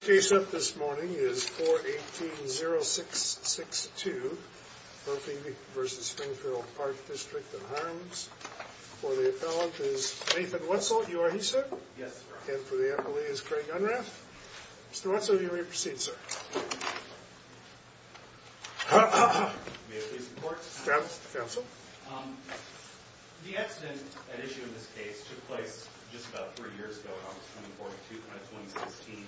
Case up this morning is 4-18-06-6-2, Berkeley v. Springfield Park District in Himes. For the appellant is Nathan Wetzel. You are he, sir? Yes, sir. And for the appellee is Craig Unrath. Mr. Wetzel, you may proceed, sir. May I please report? Counsel. The accident at issue in this case took place just about three years ago, August 24, 2016.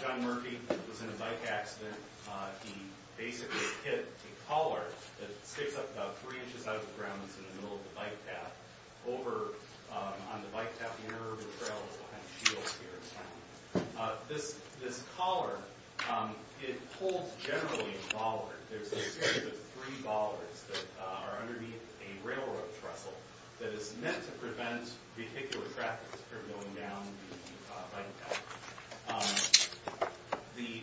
John Murphy was in a bike accident. He basically hit a collar that sticks up about three inches out of the ground that's in the middle of the bike path. Over on the bike path, the inner urban trail is what kind of shields here. This collar, it holds generally a baller. There's a series of three ballers that are underneath a railroad trestle that is meant to prevent vehicular traffic from going down the bike path. The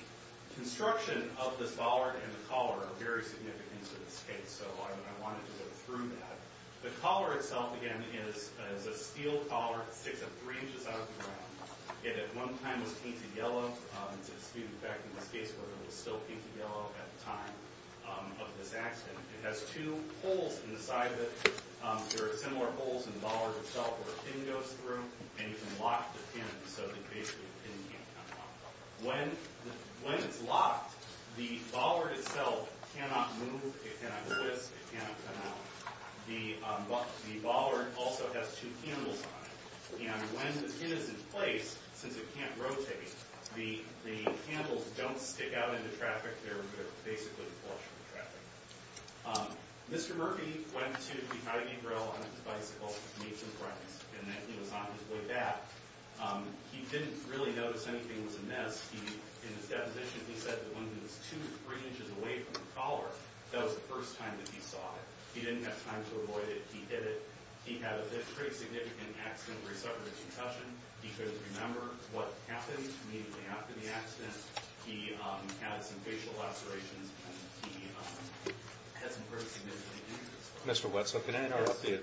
construction of this baller and the collar are very significant in this case, so I wanted to go through that. The collar itself, again, is a steel collar that sticks up three inches out of the ground. It at one time was painted yellow. In fact, in this case, it was still painted yellow at the time of this accident. It has two holes in the side of it. There are similar holes in the baller itself where a pin goes through, and you can lock the pin so that basically the pin can't come out. When it's locked, the baller itself cannot move. It cannot twist. It cannot come out. The baller also has two handles on it. When the pin is in place, since it can't rotate, the handles don't stick out into traffic. They're basically the force of the traffic. Mr. Murphy went to the Ivy Grill on his bicycle to meet some friends, and he was on his way back. He didn't really notice anything was amiss. In his deposition, he said that when he was two to three inches away from the collar, that was the first time that he saw it. He didn't have time to avoid it. He did it. He had a pretty significant accident where he suffered a concussion. He could remember what happened immediately after the accident. He had some facial lacerations, and he had some pretty significant injuries. Mr. Wetzel, can I interrupt you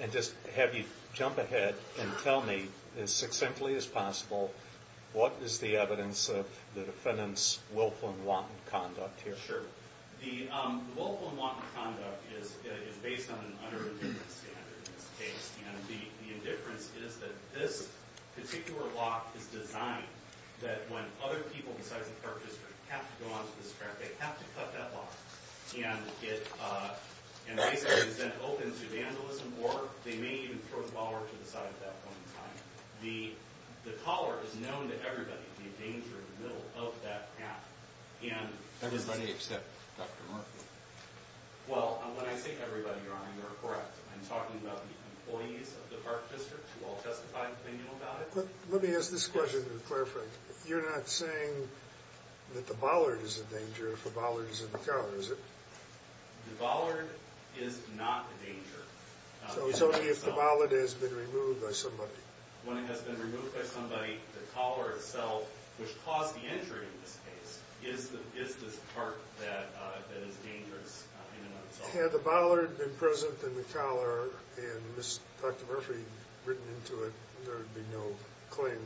and just have you jump ahead and tell me, as succinctly as possible, what is the evidence of the defendant's willful and wanton conduct here? Sure. The willful and wanton conduct is based on an under-indifference standard in this case. And the indifference is that this particular lock is designed that when other people besides the park district have to go onto this track, they have to cut that lock. And it basically is then open to vandalism, or they may even throw the collar to the side at that point in time. The collar is known to everybody to be a danger in the middle of that path. Everybody except Dr. Murphy. Well, when I say everybody, Your Honor, you're correct. I'm talking about the employees of the park district who all testified opinion about it. Let me ask this question to clarify. You're not saying that the bollard is a danger if the bollard is in the collar, is it? The bollard is not a danger. So it's only if the bollard has been removed by somebody. When it has been removed by somebody, the collar itself, which caused the injury in this case, is this part that is dangerous in and of itself. Had the bollard been present in the collar and Dr. Murphy written into it, there would be no claim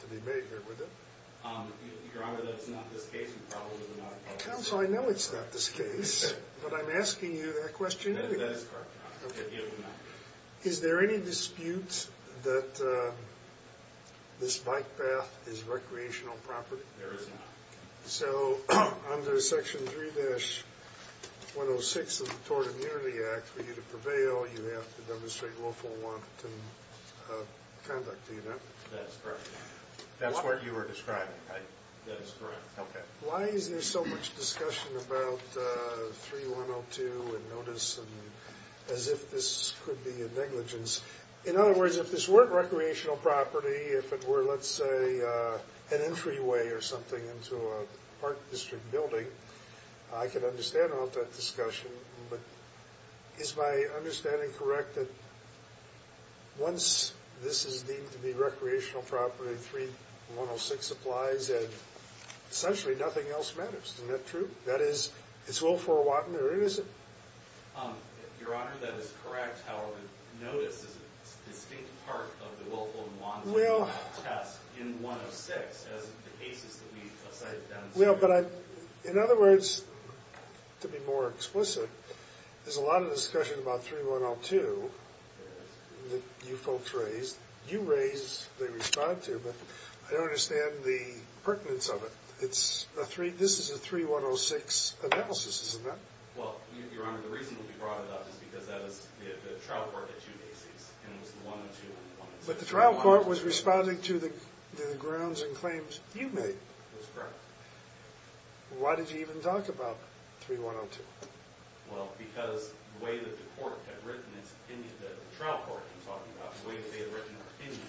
to be made there, would there? Your Honor, that's not the case. You probably would not have brought this up. Counsel, I know it's not this case, but I'm asking you that question anyway. That is correct, Your Honor. It would not be. Is there any dispute that this bike path is recreational property? There is not. So under Section 3-106 of the Tort Immunity Act, for you to prevail, you have to demonstrate willful want to conduct the event. That's correct. That's what you were describing, right? That is correct. Okay. Why is there so much discussion about 3-102 and notice as if this could be a negligence? In other words, if this weren't recreational property, if it were, let's say, an entryway or something into a park district building, I could understand all that discussion. But is my understanding correct that once this is deemed to be recreational property, 3-106 applies and essentially nothing else matters? Isn't that true? That is, it's willful wanton or innocent? Your Honor, that is correct. However, notice is a distinct part of the willful wanton test in 106 as the cases that we cited down there. Well, but in other words, to be more explicit, there's a lot of discussion about 3-102 that you folks raised. You raised, they respond to, but I don't understand the pertinence of it. This is a 3-106 analysis, isn't it? Well, Your Honor, the reason we brought it up is because the trial court had two cases and it was the one and two. But the trial court was responding to the grounds and claims you made. That's correct. Why did you even talk about 3-102? Well, because the way that the court had written its opinion, the trial court had been talking about the way that they had written their opinion.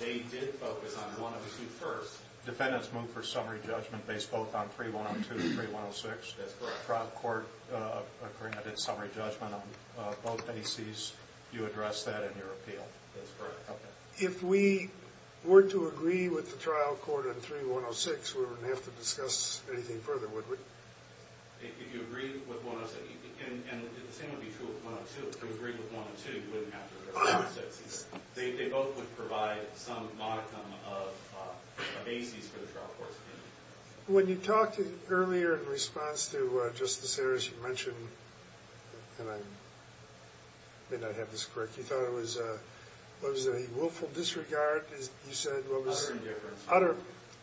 They did focus on one of the two first. Defendants move for summary judgment based both on 3-102 and 3-106? That's correct. Trial court occurring at its summary judgment on both bases, you address that in your appeal? That's correct. Okay. If we were to agree with the trial court on 3-106, we wouldn't have to discuss anything further, would we? If you agreed with 106, and the same would be true of 102. If you agreed with 102, you wouldn't have to address 106. They both would provide some modicum of bases for the trial court's opinion. When you talked earlier in response to Justice Harris, you mentioned, and I may not have this correct, you thought it was a willful disregard? Utter indifference.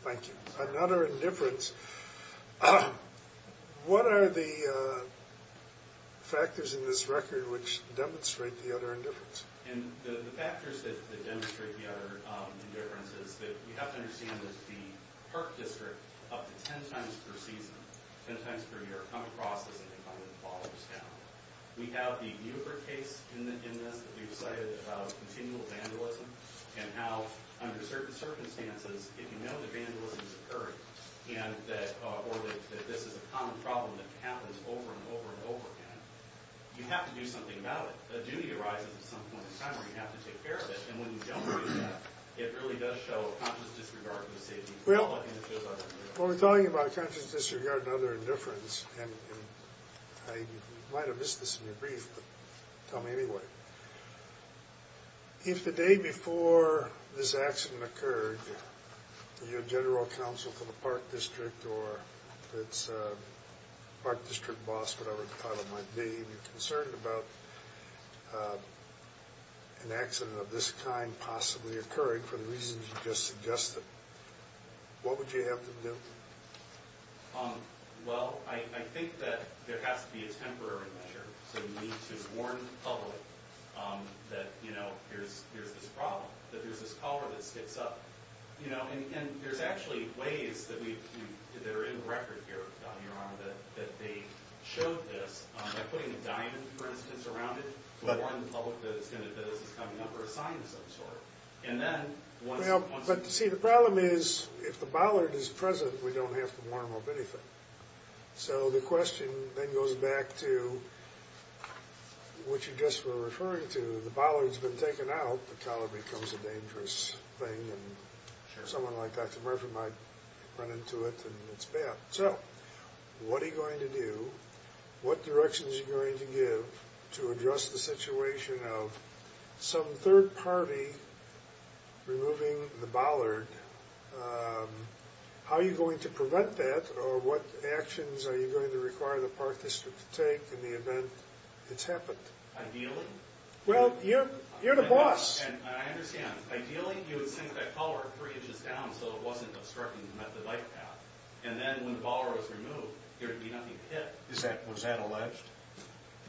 Thank you. An utter indifference. What are the factors in this record which demonstrate the utter indifference? The factors that demonstrate the utter indifference is that we have to understand that the park district, up to 10 times per season, 10 times per year, come across as an incumbent that follows down. We have the newer case in this that we've cited about continual vandalism and how, under certain circumstances, if you know that vandalism is occurring or that this is a common problem that happens over and over and over again, you have to do something about it. A duty arises at some point in time where you have to take care of it, and when you don't do that, it really does show a conscious disregard for the safety of the public, and it shows utter indifference. You might have missed this in your brief, but tell me anyway. If the day before this accident occurred, your general counsel for the park district or its park district boss, whatever the title might be, were concerned about an accident of this kind possibly occurring for the reasons you just suggested, what would you have them do? Well, I think that there has to be a temporary measure. So you need to warn the public that, you know, here's this problem, that there's this collar that sticks up. You know, and there's actually ways that are in the record here, Your Honor, that they showed this by putting a diamond, for instance, around it to warn the public that this is coming up or a sign of some sort. Well, but see, the problem is if the bollard is present, we don't have to warn them of anything. So the question then goes back to what you just were referring to. The bollard's been taken out. The collar becomes a dangerous thing, and someone like Dr. Murphy might run into it, and it's bad. So what are you going to do? What directions are you going to give to address the situation of some third party removing the bollard? How are you going to prevent that? Or what actions are you going to require the Park District to take in the event it's happened? Ideally? Well, you're the boss. And I understand. Ideally, you would sink that collar three inches down so it wasn't obstructing the right path. And then when the bollard was removed, there would be nothing to hit. Was that alleged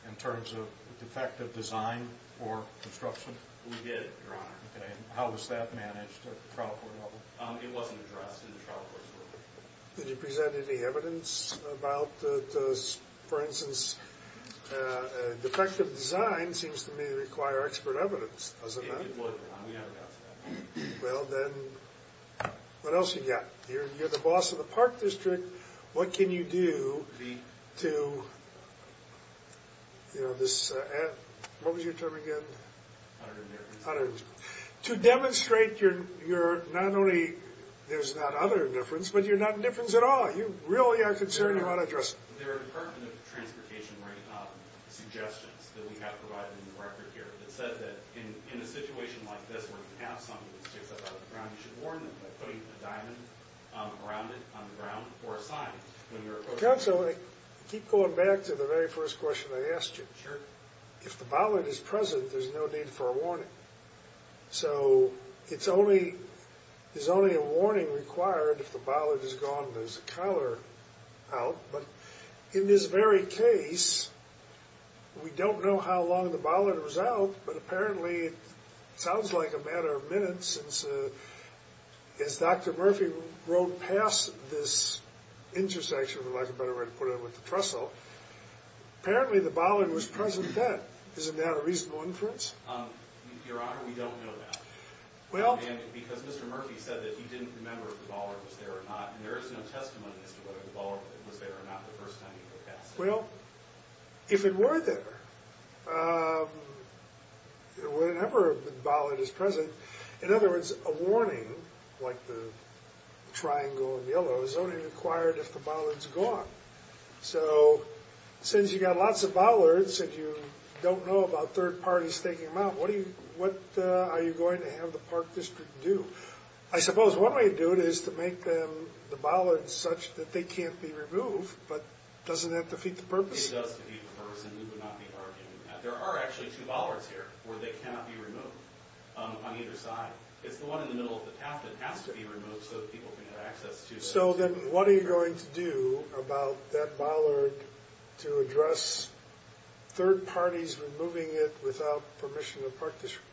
in terms of defective design or construction? We did, Your Honor. Okay. And how was that managed at the trial court level? It wasn't addressed at the trial court level. Did you present any evidence about this? For instance, defective design seems to me to require expert evidence. Doesn't it? It would, Your Honor. We have a doubt about that. Well, then what else have you got? You're the boss of the Park District. What can you do to, you know, this, what was your term again? Utter indifference. Utter indifference. To demonstrate you're not only, there's not utter indifference, but you're not indifference at all. You really are concerned about addressing it. There are Department of Transportation suggestions that we have provided in the record here that said that in a situation like this where you have something that sticks up out of the ground, you should warn them by putting a diamond around it on the ground or a sign when you're approaching it. Counsel, I keep going back to the very first question I asked you. Sure. If the bollard is present, there's no need for a warning. So it's only, there's only a warning required if the bollard is gone and there's a collar out. But in this very case, we don't know how long the bollard was out, but apparently it sounds like a matter of minutes since, as Dr. Murphy wrote past this intersection, for lack of a better way to put it, with the trestle, apparently the bollard was present then. Isn't that a reasonable inference? Your Honor, we don't know that. Well. Because Mr. Murphy said that he didn't remember if the bollard was there or not, and there is no testimony as to whether the bollard was there or not the first time he wrote that statement. Well, if it were there, whenever the bollard is present, in other words, a warning like the triangle in yellow is only required if the bollard's gone. So since you've got lots of bollards and you don't know about third parties taking them out, what are you going to have the Park District do? I suppose one way to do it is to make the bollards such that they can't be removed but doesn't that defeat the purpose? It does defeat the purpose, and we would not be arguing that. There are actually two bollards here where they cannot be removed on either side. It's the one in the middle of the path that has to be removed so that people can have access to it. So then what are you going to do about that bollard to address third parties removing it without permission of Park District?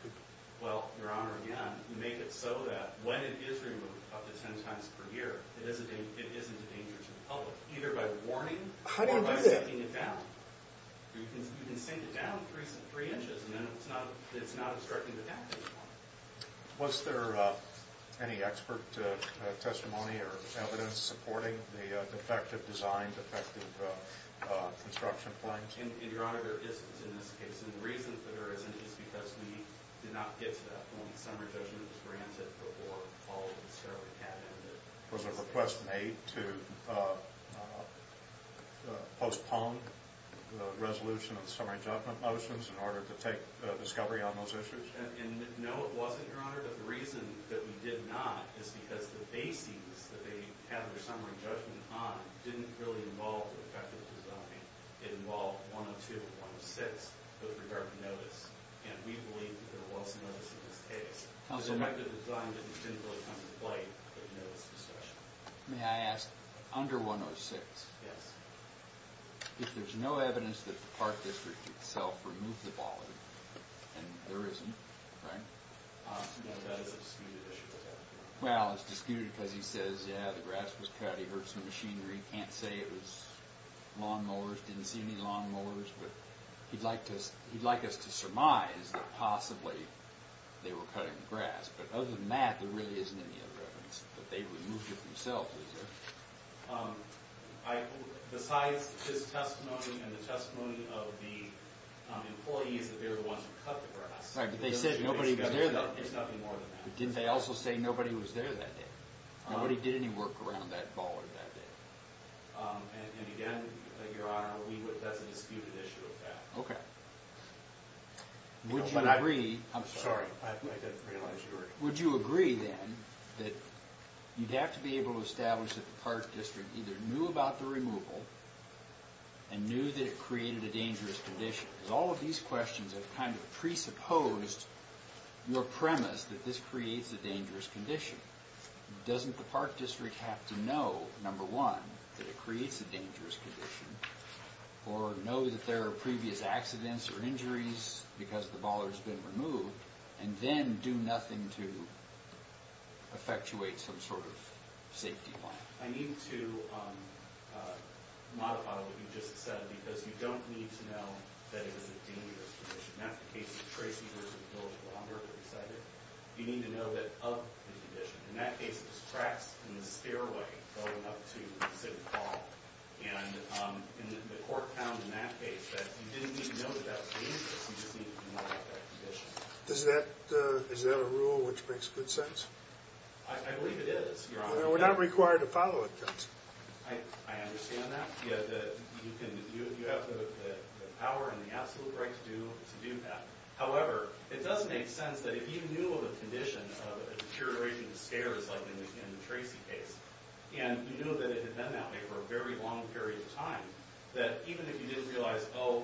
Well, Your Honor, again, make it so that when it is removed up to ten times per year, it isn't a danger to the public either by warning or by sinking it down. How do you do that? You can sink it down three inches and then it's not obstructing the path anymore. Was there any expert testimony or evidence supporting the defective design, defective construction plans? Your Honor, there isn't in this case, and the reason for there isn't is because we did not get to that when the summary judgment was granted before all of the discovery happened. Was there a request made to postpone the resolution of the summary judgment motions in order to take discovery on those issues? No, it wasn't, Your Honor. But the reason that we did not is because the bases that they had their summary judgment on didn't really involve defective design. It involved 102 and 106 with regard to notice. And we believe that there was notice in this case. The defective design didn't really come to light in this discussion. May I ask, under 106, if there's no evidence that the Park District itself removed the bollard, and there isn't, right? No, that is a disputed issue. Well, it's disputed because he says, yeah, the grass was cut, he heard some machinery. He can't say it was lawn mowers, didn't see any lawn mowers. But he'd like us to surmise that possibly they were cutting grass. But other than that, there really isn't any other evidence that they removed it themselves, is there? Besides his testimony and the testimony of the employees that they were the ones who cut the grass, there's nothing more than that. But didn't they also say nobody was there that day? Nobody did any work around that bollard that day. And again, Your Honor, that's a disputed issue of that. Okay. Would you agree... I'm sorry, I didn't realize you were... Would you agree, then, that you'd have to be able to establish that the Park District either knew about the removal and knew that it created a dangerous condition? Because all of these questions have kind of presupposed your premise that this creates a dangerous condition. Doesn't the Park District have to know, number one, that it creates a dangerous condition, or know that there are previous accidents or injuries because the bollard's been removed, and then do nothing to effectuate some sort of safety plan? I need to modify what you just said, because you don't need to know that it was a dangerous condition. That's the case of Tracy, who was in the village for a long period of time. You need to know that of the condition. In that case, it was tracks in the stairway going up to City Hall. And the court found in that case that you didn't need to know that that was dangerous, you just needed to know about that condition. Is that a rule which makes good sense? I believe it is, Your Honor. We're not required to follow it, Judge. I understand that. You have the power and the absolute right to do that. However, it does make sense that if you knew of a condition of a deterioration of stairs, like in the Tracy case, and you knew that it had been that way for a very long period of time, that even if you didn't realize, oh,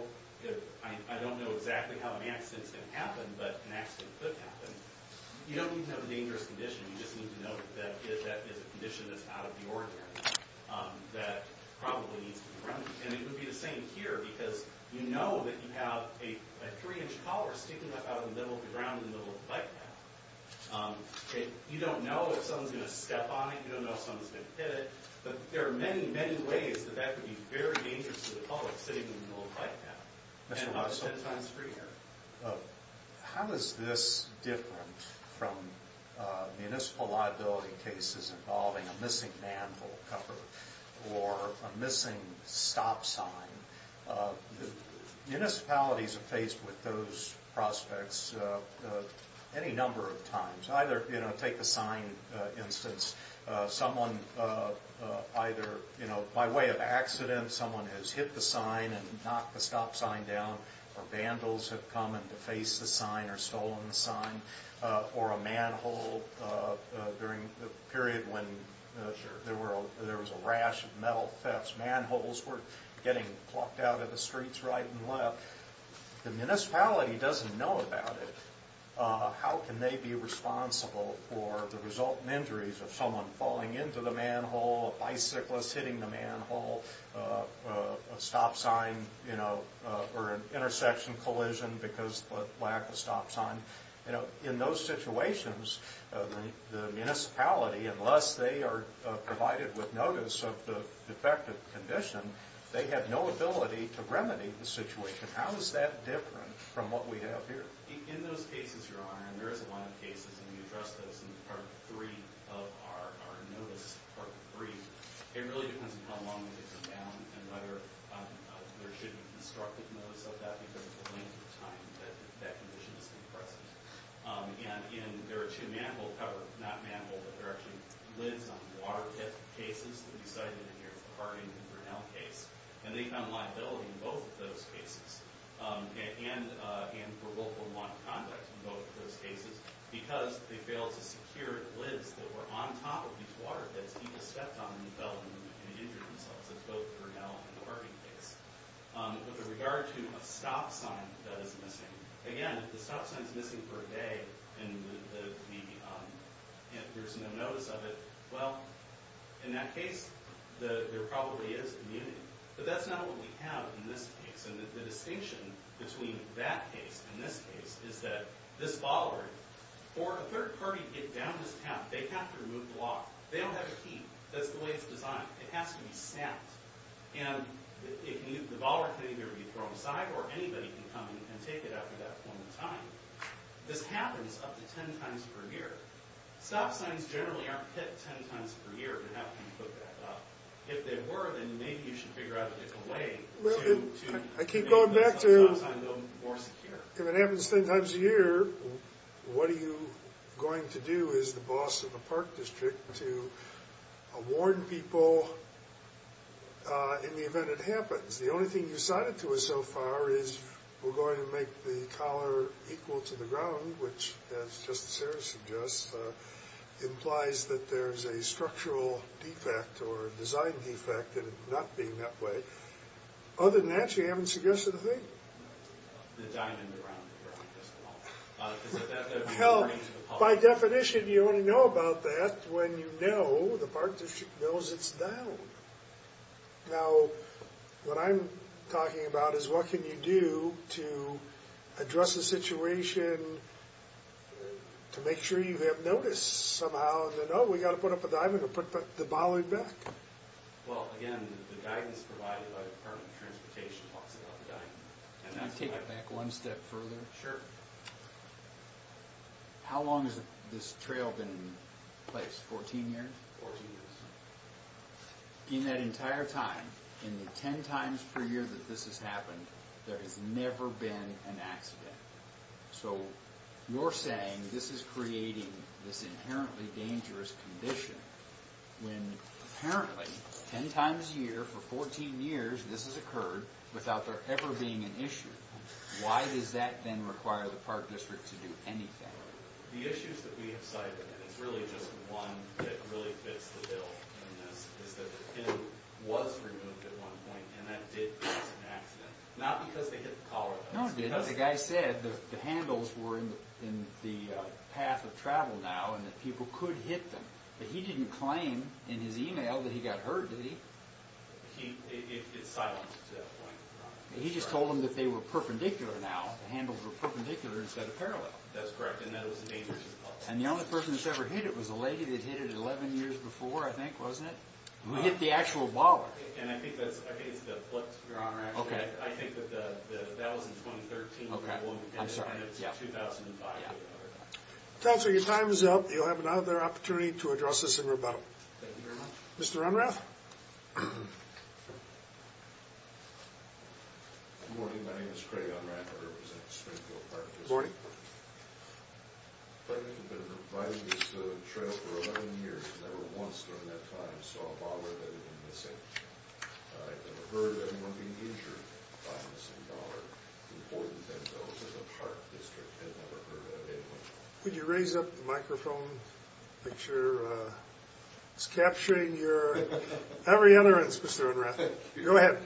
I don't know exactly how an accident's going to happen, but an accident could happen, you don't need to know the dangerous condition, you just need to know that that is a condition that's out of the ordinary, that probably needs to be corrected. And it would be the same here, because you know that you have a 3-inch collar sticking up out of the middle of the ground in the middle of the bike path. You don't know if someone's going to step on it, you don't know if someone's going to hit it, but there are many, many ways that that could be very dangerous to the public, sitting in the middle of the bike path. How is this different from municipal liability cases involving a missing manhole cover or a missing stop sign? Municipalities are faced with those prospects any number of times. Either, you know, take the sign instance, someone either, you know, by way of accident, someone has hit the sign and knocked the stop sign down, or vandals have come and defaced the sign or stolen the sign, or a manhole during the period when there was a rash of metal thefts, manholes were getting plucked out of the streets right and left. The municipality doesn't know about it. How can they be responsible for the resultant injuries of someone falling into the manhole, a bicyclist hitting the manhole, a stop sign, you know, or an intersection collision because of lack of stop sign? You know, in those situations, the municipality, unless they are provided with notice of the defective condition, they have no ability to remedy the situation. How is that different from what we have here? In those cases, Your Honor, and there is a line of cases, and we addressed those in Part 3 of our notice, Part 3, it really depends on how long they've been down and whether there should be constructive notice of that because of the length of time that condition has been present. And there are two manhole covers, not manhole, but they're actually lids on water pit cases that we cited in your Harding and Grinnell case, and they found liability in both of those cases, and provoked unwanted conduct in both of those cases because they failed to secure lids that were on top of these water pits and people stepped on them and fell and injured themselves, as both Grinnell and the Harding case. With regard to a stop sign that is missing, again, if the stop sign is missing for a day and there's no notice of it, well, in that case, there probably is immunity. But that's not what we have in this case, and the distinction between that case and this case is that this ballroom, for a third party to get down this path, they have to remove the lock. They don't have a key. That's the way it's designed. It has to be snapped. And the ballroom can either be thrown aside or anybody can come and take it out at that point in time. This happens up to 10 times per year. Stop signs generally aren't hit 10 times per year, but how can you put that up? If they were, then maybe you should figure out a way to... ...make the stop sign more secure. If it happens 10 times a year, what are you going to do as the boss of the park district to warn people in the event it happens? The only thing you've cited to us so far is we're going to make the collar equal to the ground, which, as Justice Sarah suggests, implies that there's a structural defect or design defect in it not being that way. Other than that, you haven't suggested a thing. The diamond around the parking desk wall. By definition, you only know about that when you know the park district knows it's down. Now, what I'm talking about is what can you do to address the situation to make sure you have notice somehow that, oh, we've got to put up a diamond or put the bollard back. Well, again, the guidance provided by the Department of Transportation talks about the diamond. Can I take it back one step further? Sure. How long has this trail been in place? 14 years? 14 years. In that entire time, in the 10 times per year that this has happened, there has never been an accident. So you're saying this is creating this inherently dangerous condition when apparently 10 times a year for 14 years this has occurred without there ever being an issue. Why does that then require the park district to do anything? The issues that we have cited, and it's really just one that really fits the bill, is that the pin was removed at one point and that did cause an accident. Not because they hit the collar. No, it didn't. The guy said the handles were in the path of travel now and that people could hit them. But he didn't claim in his email that he got hurt, did he? It's silenced to that point, Your Honor. He just told them that they were perpendicular now. The handles were perpendicular instead of parallel. That's correct, and that was a dangerous cause. And the only person that's ever hit it was a lady that hit it 11 years before, I think, wasn't it? Who hit the actual baller. And I think it's the flex, Your Honor. I think that that was in 2013 and it's 2005. Counselor, your time is up. You'll have another opportunity to address this in rebuttal. Thank you, Your Honor. Mr. Unrath. Good morning. My name is Craig Unrath. I represent Springfield Park District. Morning. Craig and I have been riding this trail for 11 years and never once during that time saw a baller that had been missing. I've never heard of anyone being injured by a missing baller. It's important that those of the Park District have never heard of anyone. Could you raise up the microphone? Make sure it's capturing every utterance, Mr. Unrath. Thank you. Go ahead.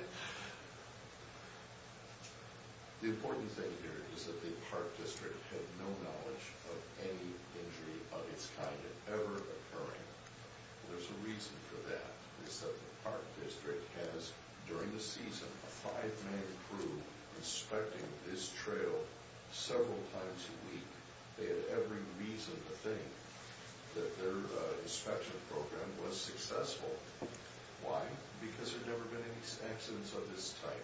The important thing here is that the Park District had no knowledge of any injury of its kind ever occurring. There's a reason for that. It's that the Park District has, during the season, a five-man crew inspecting this trail several times a week. They had every reason to think that their inspection program was successful. Why? Because there had never been any accidents of this type.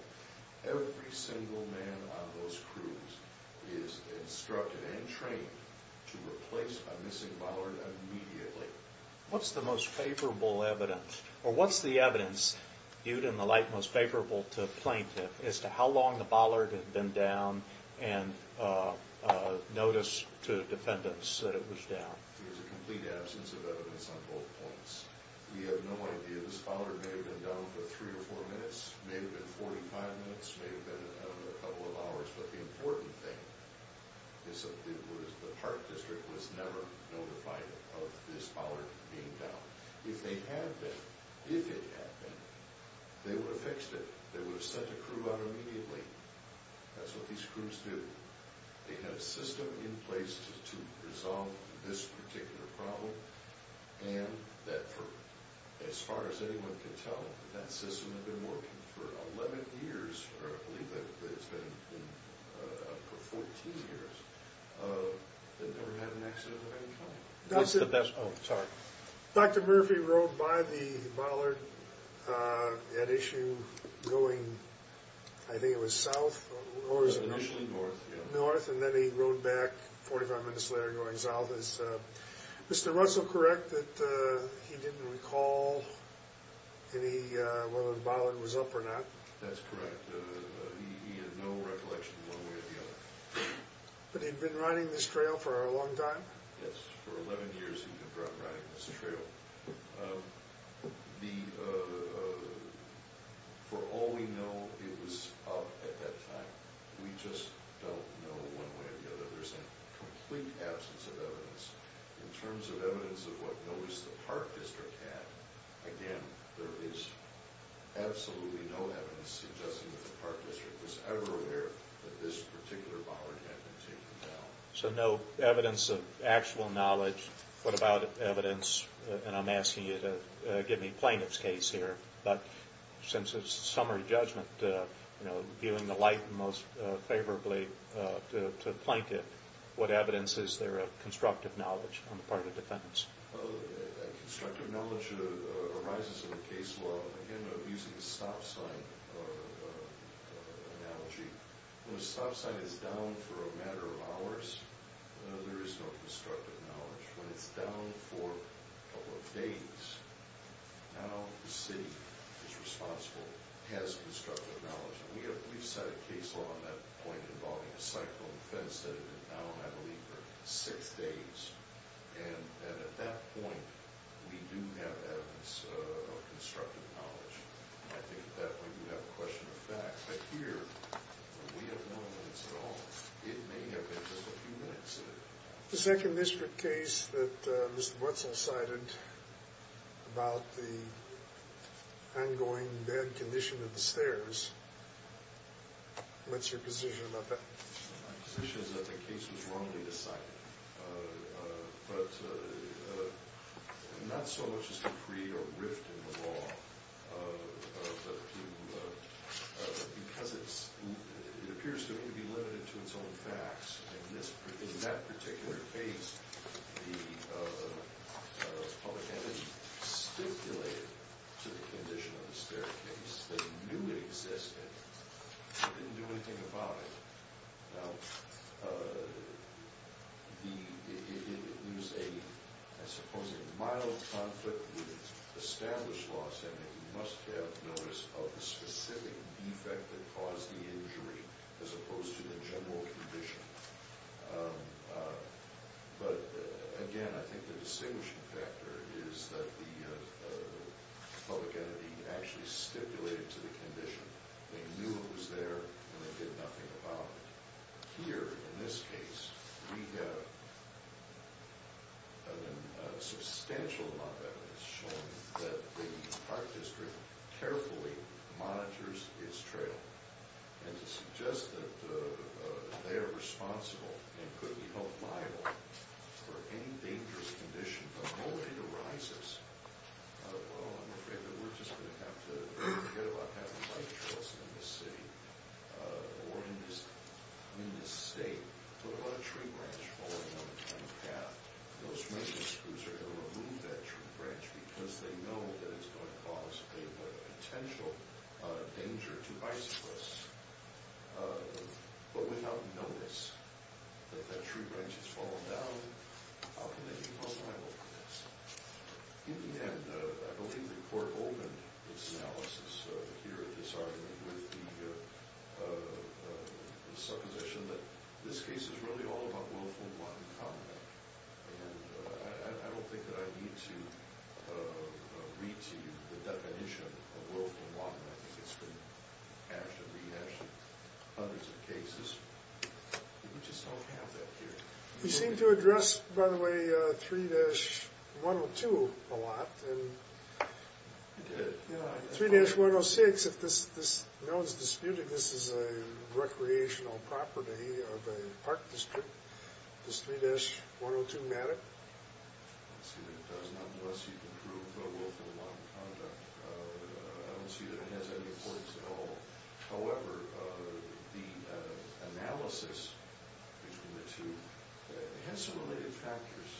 Every single man on those crews is instructed and trained to replace a missing baller immediately. What's the most favorable evidence, or what's the evidence viewed in the light most favorable to a plaintiff as to how long the baller had been down and notice to defendants that it was down? There's a complete absence of evidence on both points. We have no idea. This baller may have been down for three or four minutes, may have been 45 minutes, may have been a couple of hours. But the important thing is that the Park District was never notified of this baller being down. If they had been, if it had been, they would have fixed it. They would have sent a crew out immediately. That's what these crews do. They have a system in place to resolve this particular problem, and that, as far as anyone can tell, that system had been working for 11 years, or I believe that it's been for 14 years, and never had an accident of any kind. What's the best, oh, sorry. Dr. Murphy rode by the baller at issue going, I think it was south, or was it north? Initially north, yeah. North, and then he rode back 45 minutes later going south. Is Mr. Russell correct that he didn't recall any, whether the baller was up or not? That's correct. He had no recollection one way or the other. But he'd been riding this trail for a long time? Yes, for 11 years he'd been riding this trail. For all we know, it was up at that time. We just don't know one way or the other. There's a complete absence of evidence. In terms of evidence of what notice the park district had, again, there is absolutely no evidence suggesting that the park district was ever aware that this particular baller had been taken down. So no evidence of actual knowledge. What about evidence, and I'm asking you to give me plaintiff's case here, but since it's a summary judgment, viewing the light most favorably to the plaintiff, what evidence is there of constructive knowledge on the part of defendants? Constructive knowledge arises in the case law, again, using the stop sign analogy. When a stop sign is down for a matter of hours, there is no constructive knowledge. When it's down for a couple of days, now the city is responsible, has constructive knowledge. We've set a case law on that point involving a cyclone fence that had been down, I believe, for six days. And at that point, we do have evidence of constructive knowledge. I think at that point you have a question of facts. But here, we have no evidence at all. It may have been just a few minutes. The second district case that Mr. Wetzel cited about the ongoing bad condition of the stairs, what's your position about that? My position is that the case was wrongly decided, but not so much as to create a rift in the law because it appears to be limited to its own facts. In that particular case, the public entity stipulated to the condition of the staircase. They knew it existed, but didn't do anything about it. Now, there was a supposedly mild conflict with established law, saying that you must have notice of the specific defect that caused the injury as opposed to the general condition. But again, I think the distinguishing factor is that the public entity actually stipulated to the condition. They knew it was there, and they did nothing about it. Here, in this case, we have a substantial amount of evidence showing that the Park District carefully monitors its trail. And to suggest that they are responsible, and could we hope liable, for any dangerous condition from which it arises, well, I'm afraid that we're just going to have to forget about having bike trails in this city or in this state. But what about a tree branch falling down the path? Those rangers who are going to remove that tree branch because they know that it's going to cause a potential danger to bicyclists, but without notice that that tree branch has fallen down, how can they be held liable for this? In the end, I believe the court opened its analysis here at this argument with the supposition that this case is really all about willful and wanton conduct. And I don't think that I need to read to you the definition of willful and wanton. I think it's been hashed and rehashed in hundreds of cases. We just don't have that here. You seem to address, by the way, 3-102 a lot. You did. 3-106, if this is disputed, this is a recreational property of a park district. Does 3-102 matter? I don't see that it does, not unless you can prove willful and wanton conduct. However, the analysis between the two has some related factors,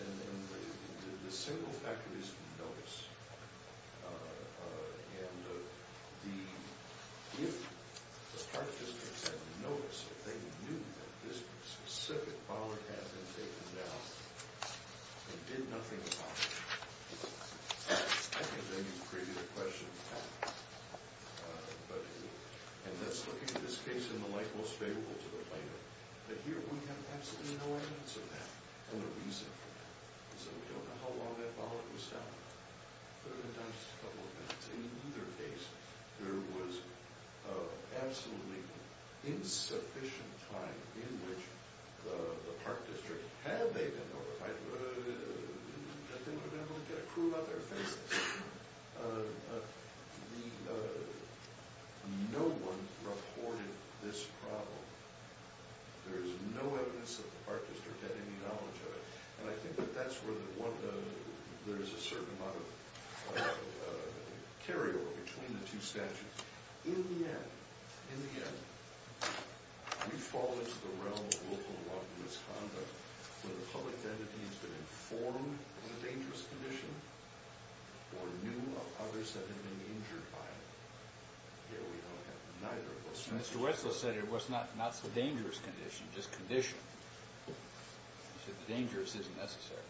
and the single factor is notice. And if the park district had notice, if they knew that this specific property had been taken down, and did nothing about it, I think then you've created a question of fact. And let's look at this case in the light most favorable to the plaintiff. But here we have absolutely no evidence of that, and no reason for that. So we don't know how long that bollard was down. But it was down just a couple of minutes. In either case, there was absolutely insufficient time in which the park district, had they been notified, that they would have been able to get a clue about their offenses. No one reported this problem. There is no evidence that the park district had any knowledge of it. And I think that that's where there's a certain amount of carryover between the two statutes. In the end, we fall into the realm of willful and wanton misconduct, where the public entity has been informed of a dangerous condition, or knew of others that have been injured by it. Here we don't have neither of those. Mr. Wetzel said it was not a dangerous condition, just conditioned. He said the dangerous isn't necessary.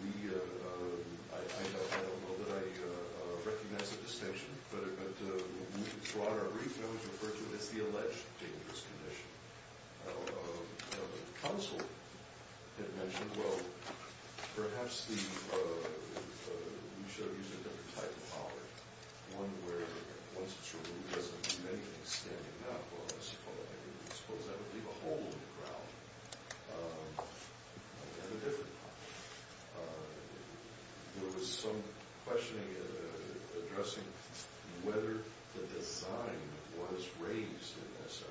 I don't know that I recognize the distinction, but throughout our brief, that was referred to as the alleged dangerous condition. Council had mentioned, well, perhaps we should use a different type of bollard. One where, once it's removed, it doesn't do anything, standing up, I suppose. I suppose that would leave a hole in the ground. Again, a different problem. There was some questioning addressing whether the design was raised in this.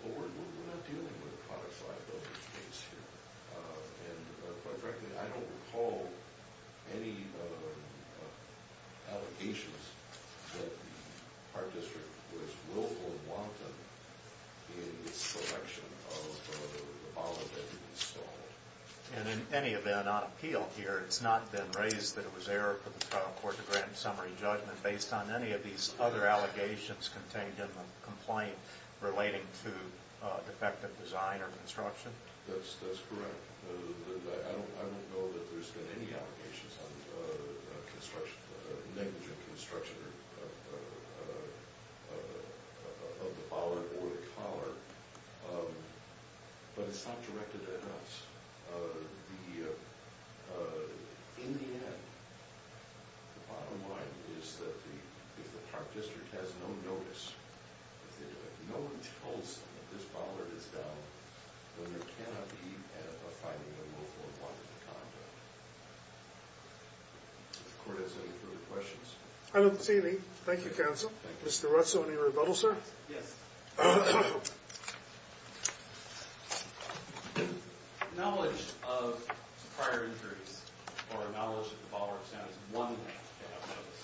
Well, we're not dealing with the product side of this case here. And quite frankly, I don't recall any allegations that the Park District was willful and wanton in its selection of the bollard that had been installed. And in any event, on appeal here, it's not been raised that it was error for the trial court to grant a summary judgment based on any of these other allegations contained in the complaint relating to defective design or construction. That's correct. I don't know that there's been any allegations of negligent construction of the bollard or the collar. But it's not directed at us. In the end, the bottom line is that if the Park District has no notice, if no one tells them that this bollard is down, then there cannot be a finding of willful and wanton conduct. Does the court have any further questions? I don't see any. Thank you, Counsel. Mr. Ruzzo, any rebuttal, sir? Yes. The knowledge of prior injuries or knowledge that the bollard is down is one way to have notice.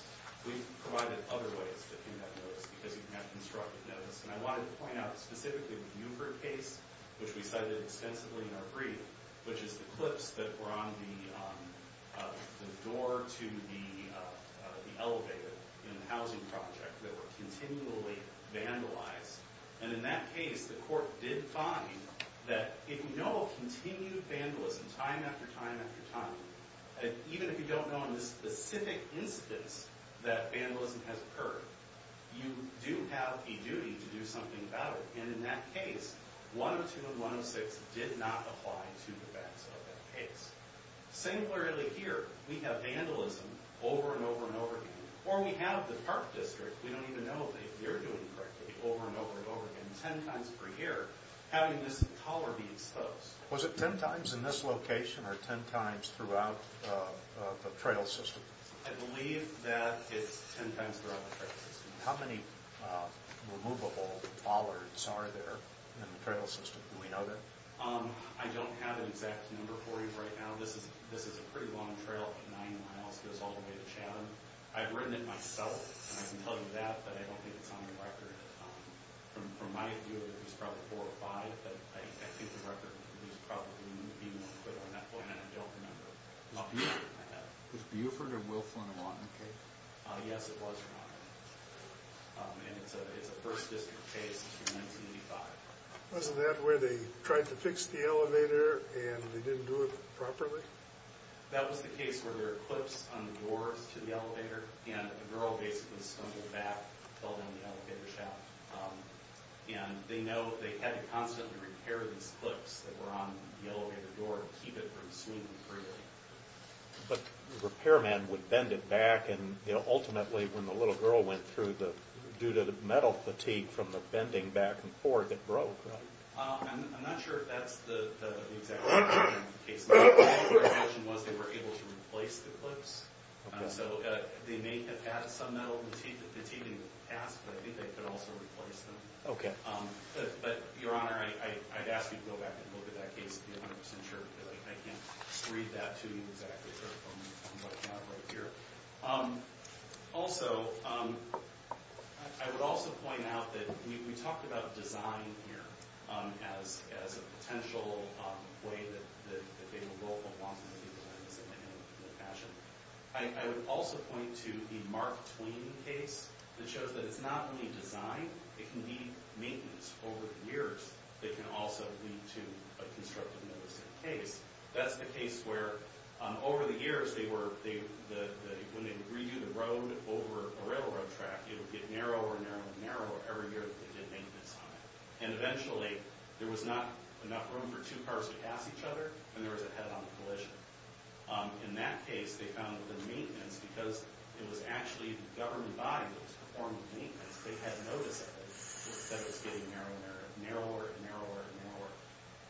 We've provided other ways that can have notice because we can have constructive notice. And I wanted to point out specifically the Newport case, which we cited extensively in our brief, which is the clips that were on the door to the elevator in the housing project that were continually vandalized. And in that case, the court did find that if you know of continued vandalism time after time after time, even if you don't know in the specific instance that vandalism has occurred, you do have a duty to do something about it. And in that case, 102 and 106 did not apply to the events of that case. Similarly here, we have vandalism over and over and over again. Or we have the Park District. We don't even know if they're doing correctly over and over and over again, 10 times per year, having this bollard be exposed. Was it 10 times in this location or 10 times throughout the trail system? I believe that it's 10 times throughout the trail system. How many removable bollards are there in the trail system? Do we know that? I don't have an exact number for you right now. This is a pretty long trail, 90 miles. It goes all the way to Chatham. I've ridden it myself. I can tell you that, but I don't think it's on the record. From my view, it was probably four or five, but I think the record is probably being put on that one. I don't remember. Was Buford or Wilflin on the case? Yes, it was on the case. And it's a First District case. It's from 1985. Wasn't that where they tried to fix the elevator and they didn't do it properly? That was the case where there were clips on the doors to the elevator, and the girl basically stumbled back, fell down the elevator shaft. And they know they had to constantly repair these clips that were on the elevator door to keep it from swinging freely. But the repairman would bend it back, and ultimately when the little girl went through, due to the metal fatigue from the bending back and forth, it broke, right? I'm not sure if that's the exact case. All I can imagine was they were able to replace the clips. So they may have added some metal fatigue in the past, but I think they could also replace them. Okay. But, Your Honor, I'd ask you to go back and look at that case to be 100% sure, because I can't read that to you exactly from what I have right here. Also, I would also point out that we talked about design here as a potential way that they will go along with the designs that they have in their passion. I would also point to the Mark Twain case that shows that it's not only design, it can be maintenance over the years that can also lead to a constructive notice in a case. That's the case where, over the years, when they would redo the road over a railroad track, it would get narrower and narrower and narrower every year that they did maintenance on it. And eventually, there was not enough room for two cars to pass each other, and there was a head-on collision. In that case, they found that the maintenance, because it was actually the government body that was performing the maintenance, they had notice of it, that it was getting narrower and narrower and narrower and narrower.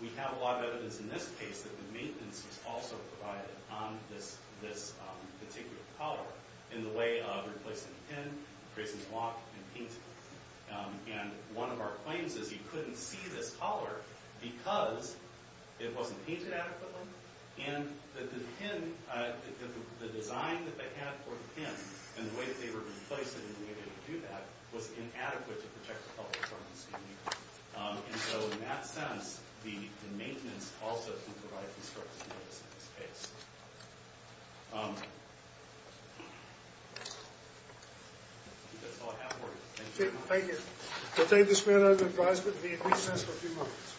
We have a lot of evidence in this case that the maintenance was also provided on this particular collar in the way of replacing the pin, tracing the block, and painting it. And one of our claims is you couldn't see this collar because it wasn't painted adequately, and the design that they had for the pin and the way that they were going to place it and the way they were going to do that was inadequate to protect the public from this community. And so, in that sense, the maintenance also can provide these circumstances in this case. I think that's all I have for you. Thank you. Thank you. We'll take this matter under advisement and be in recess for a few moments.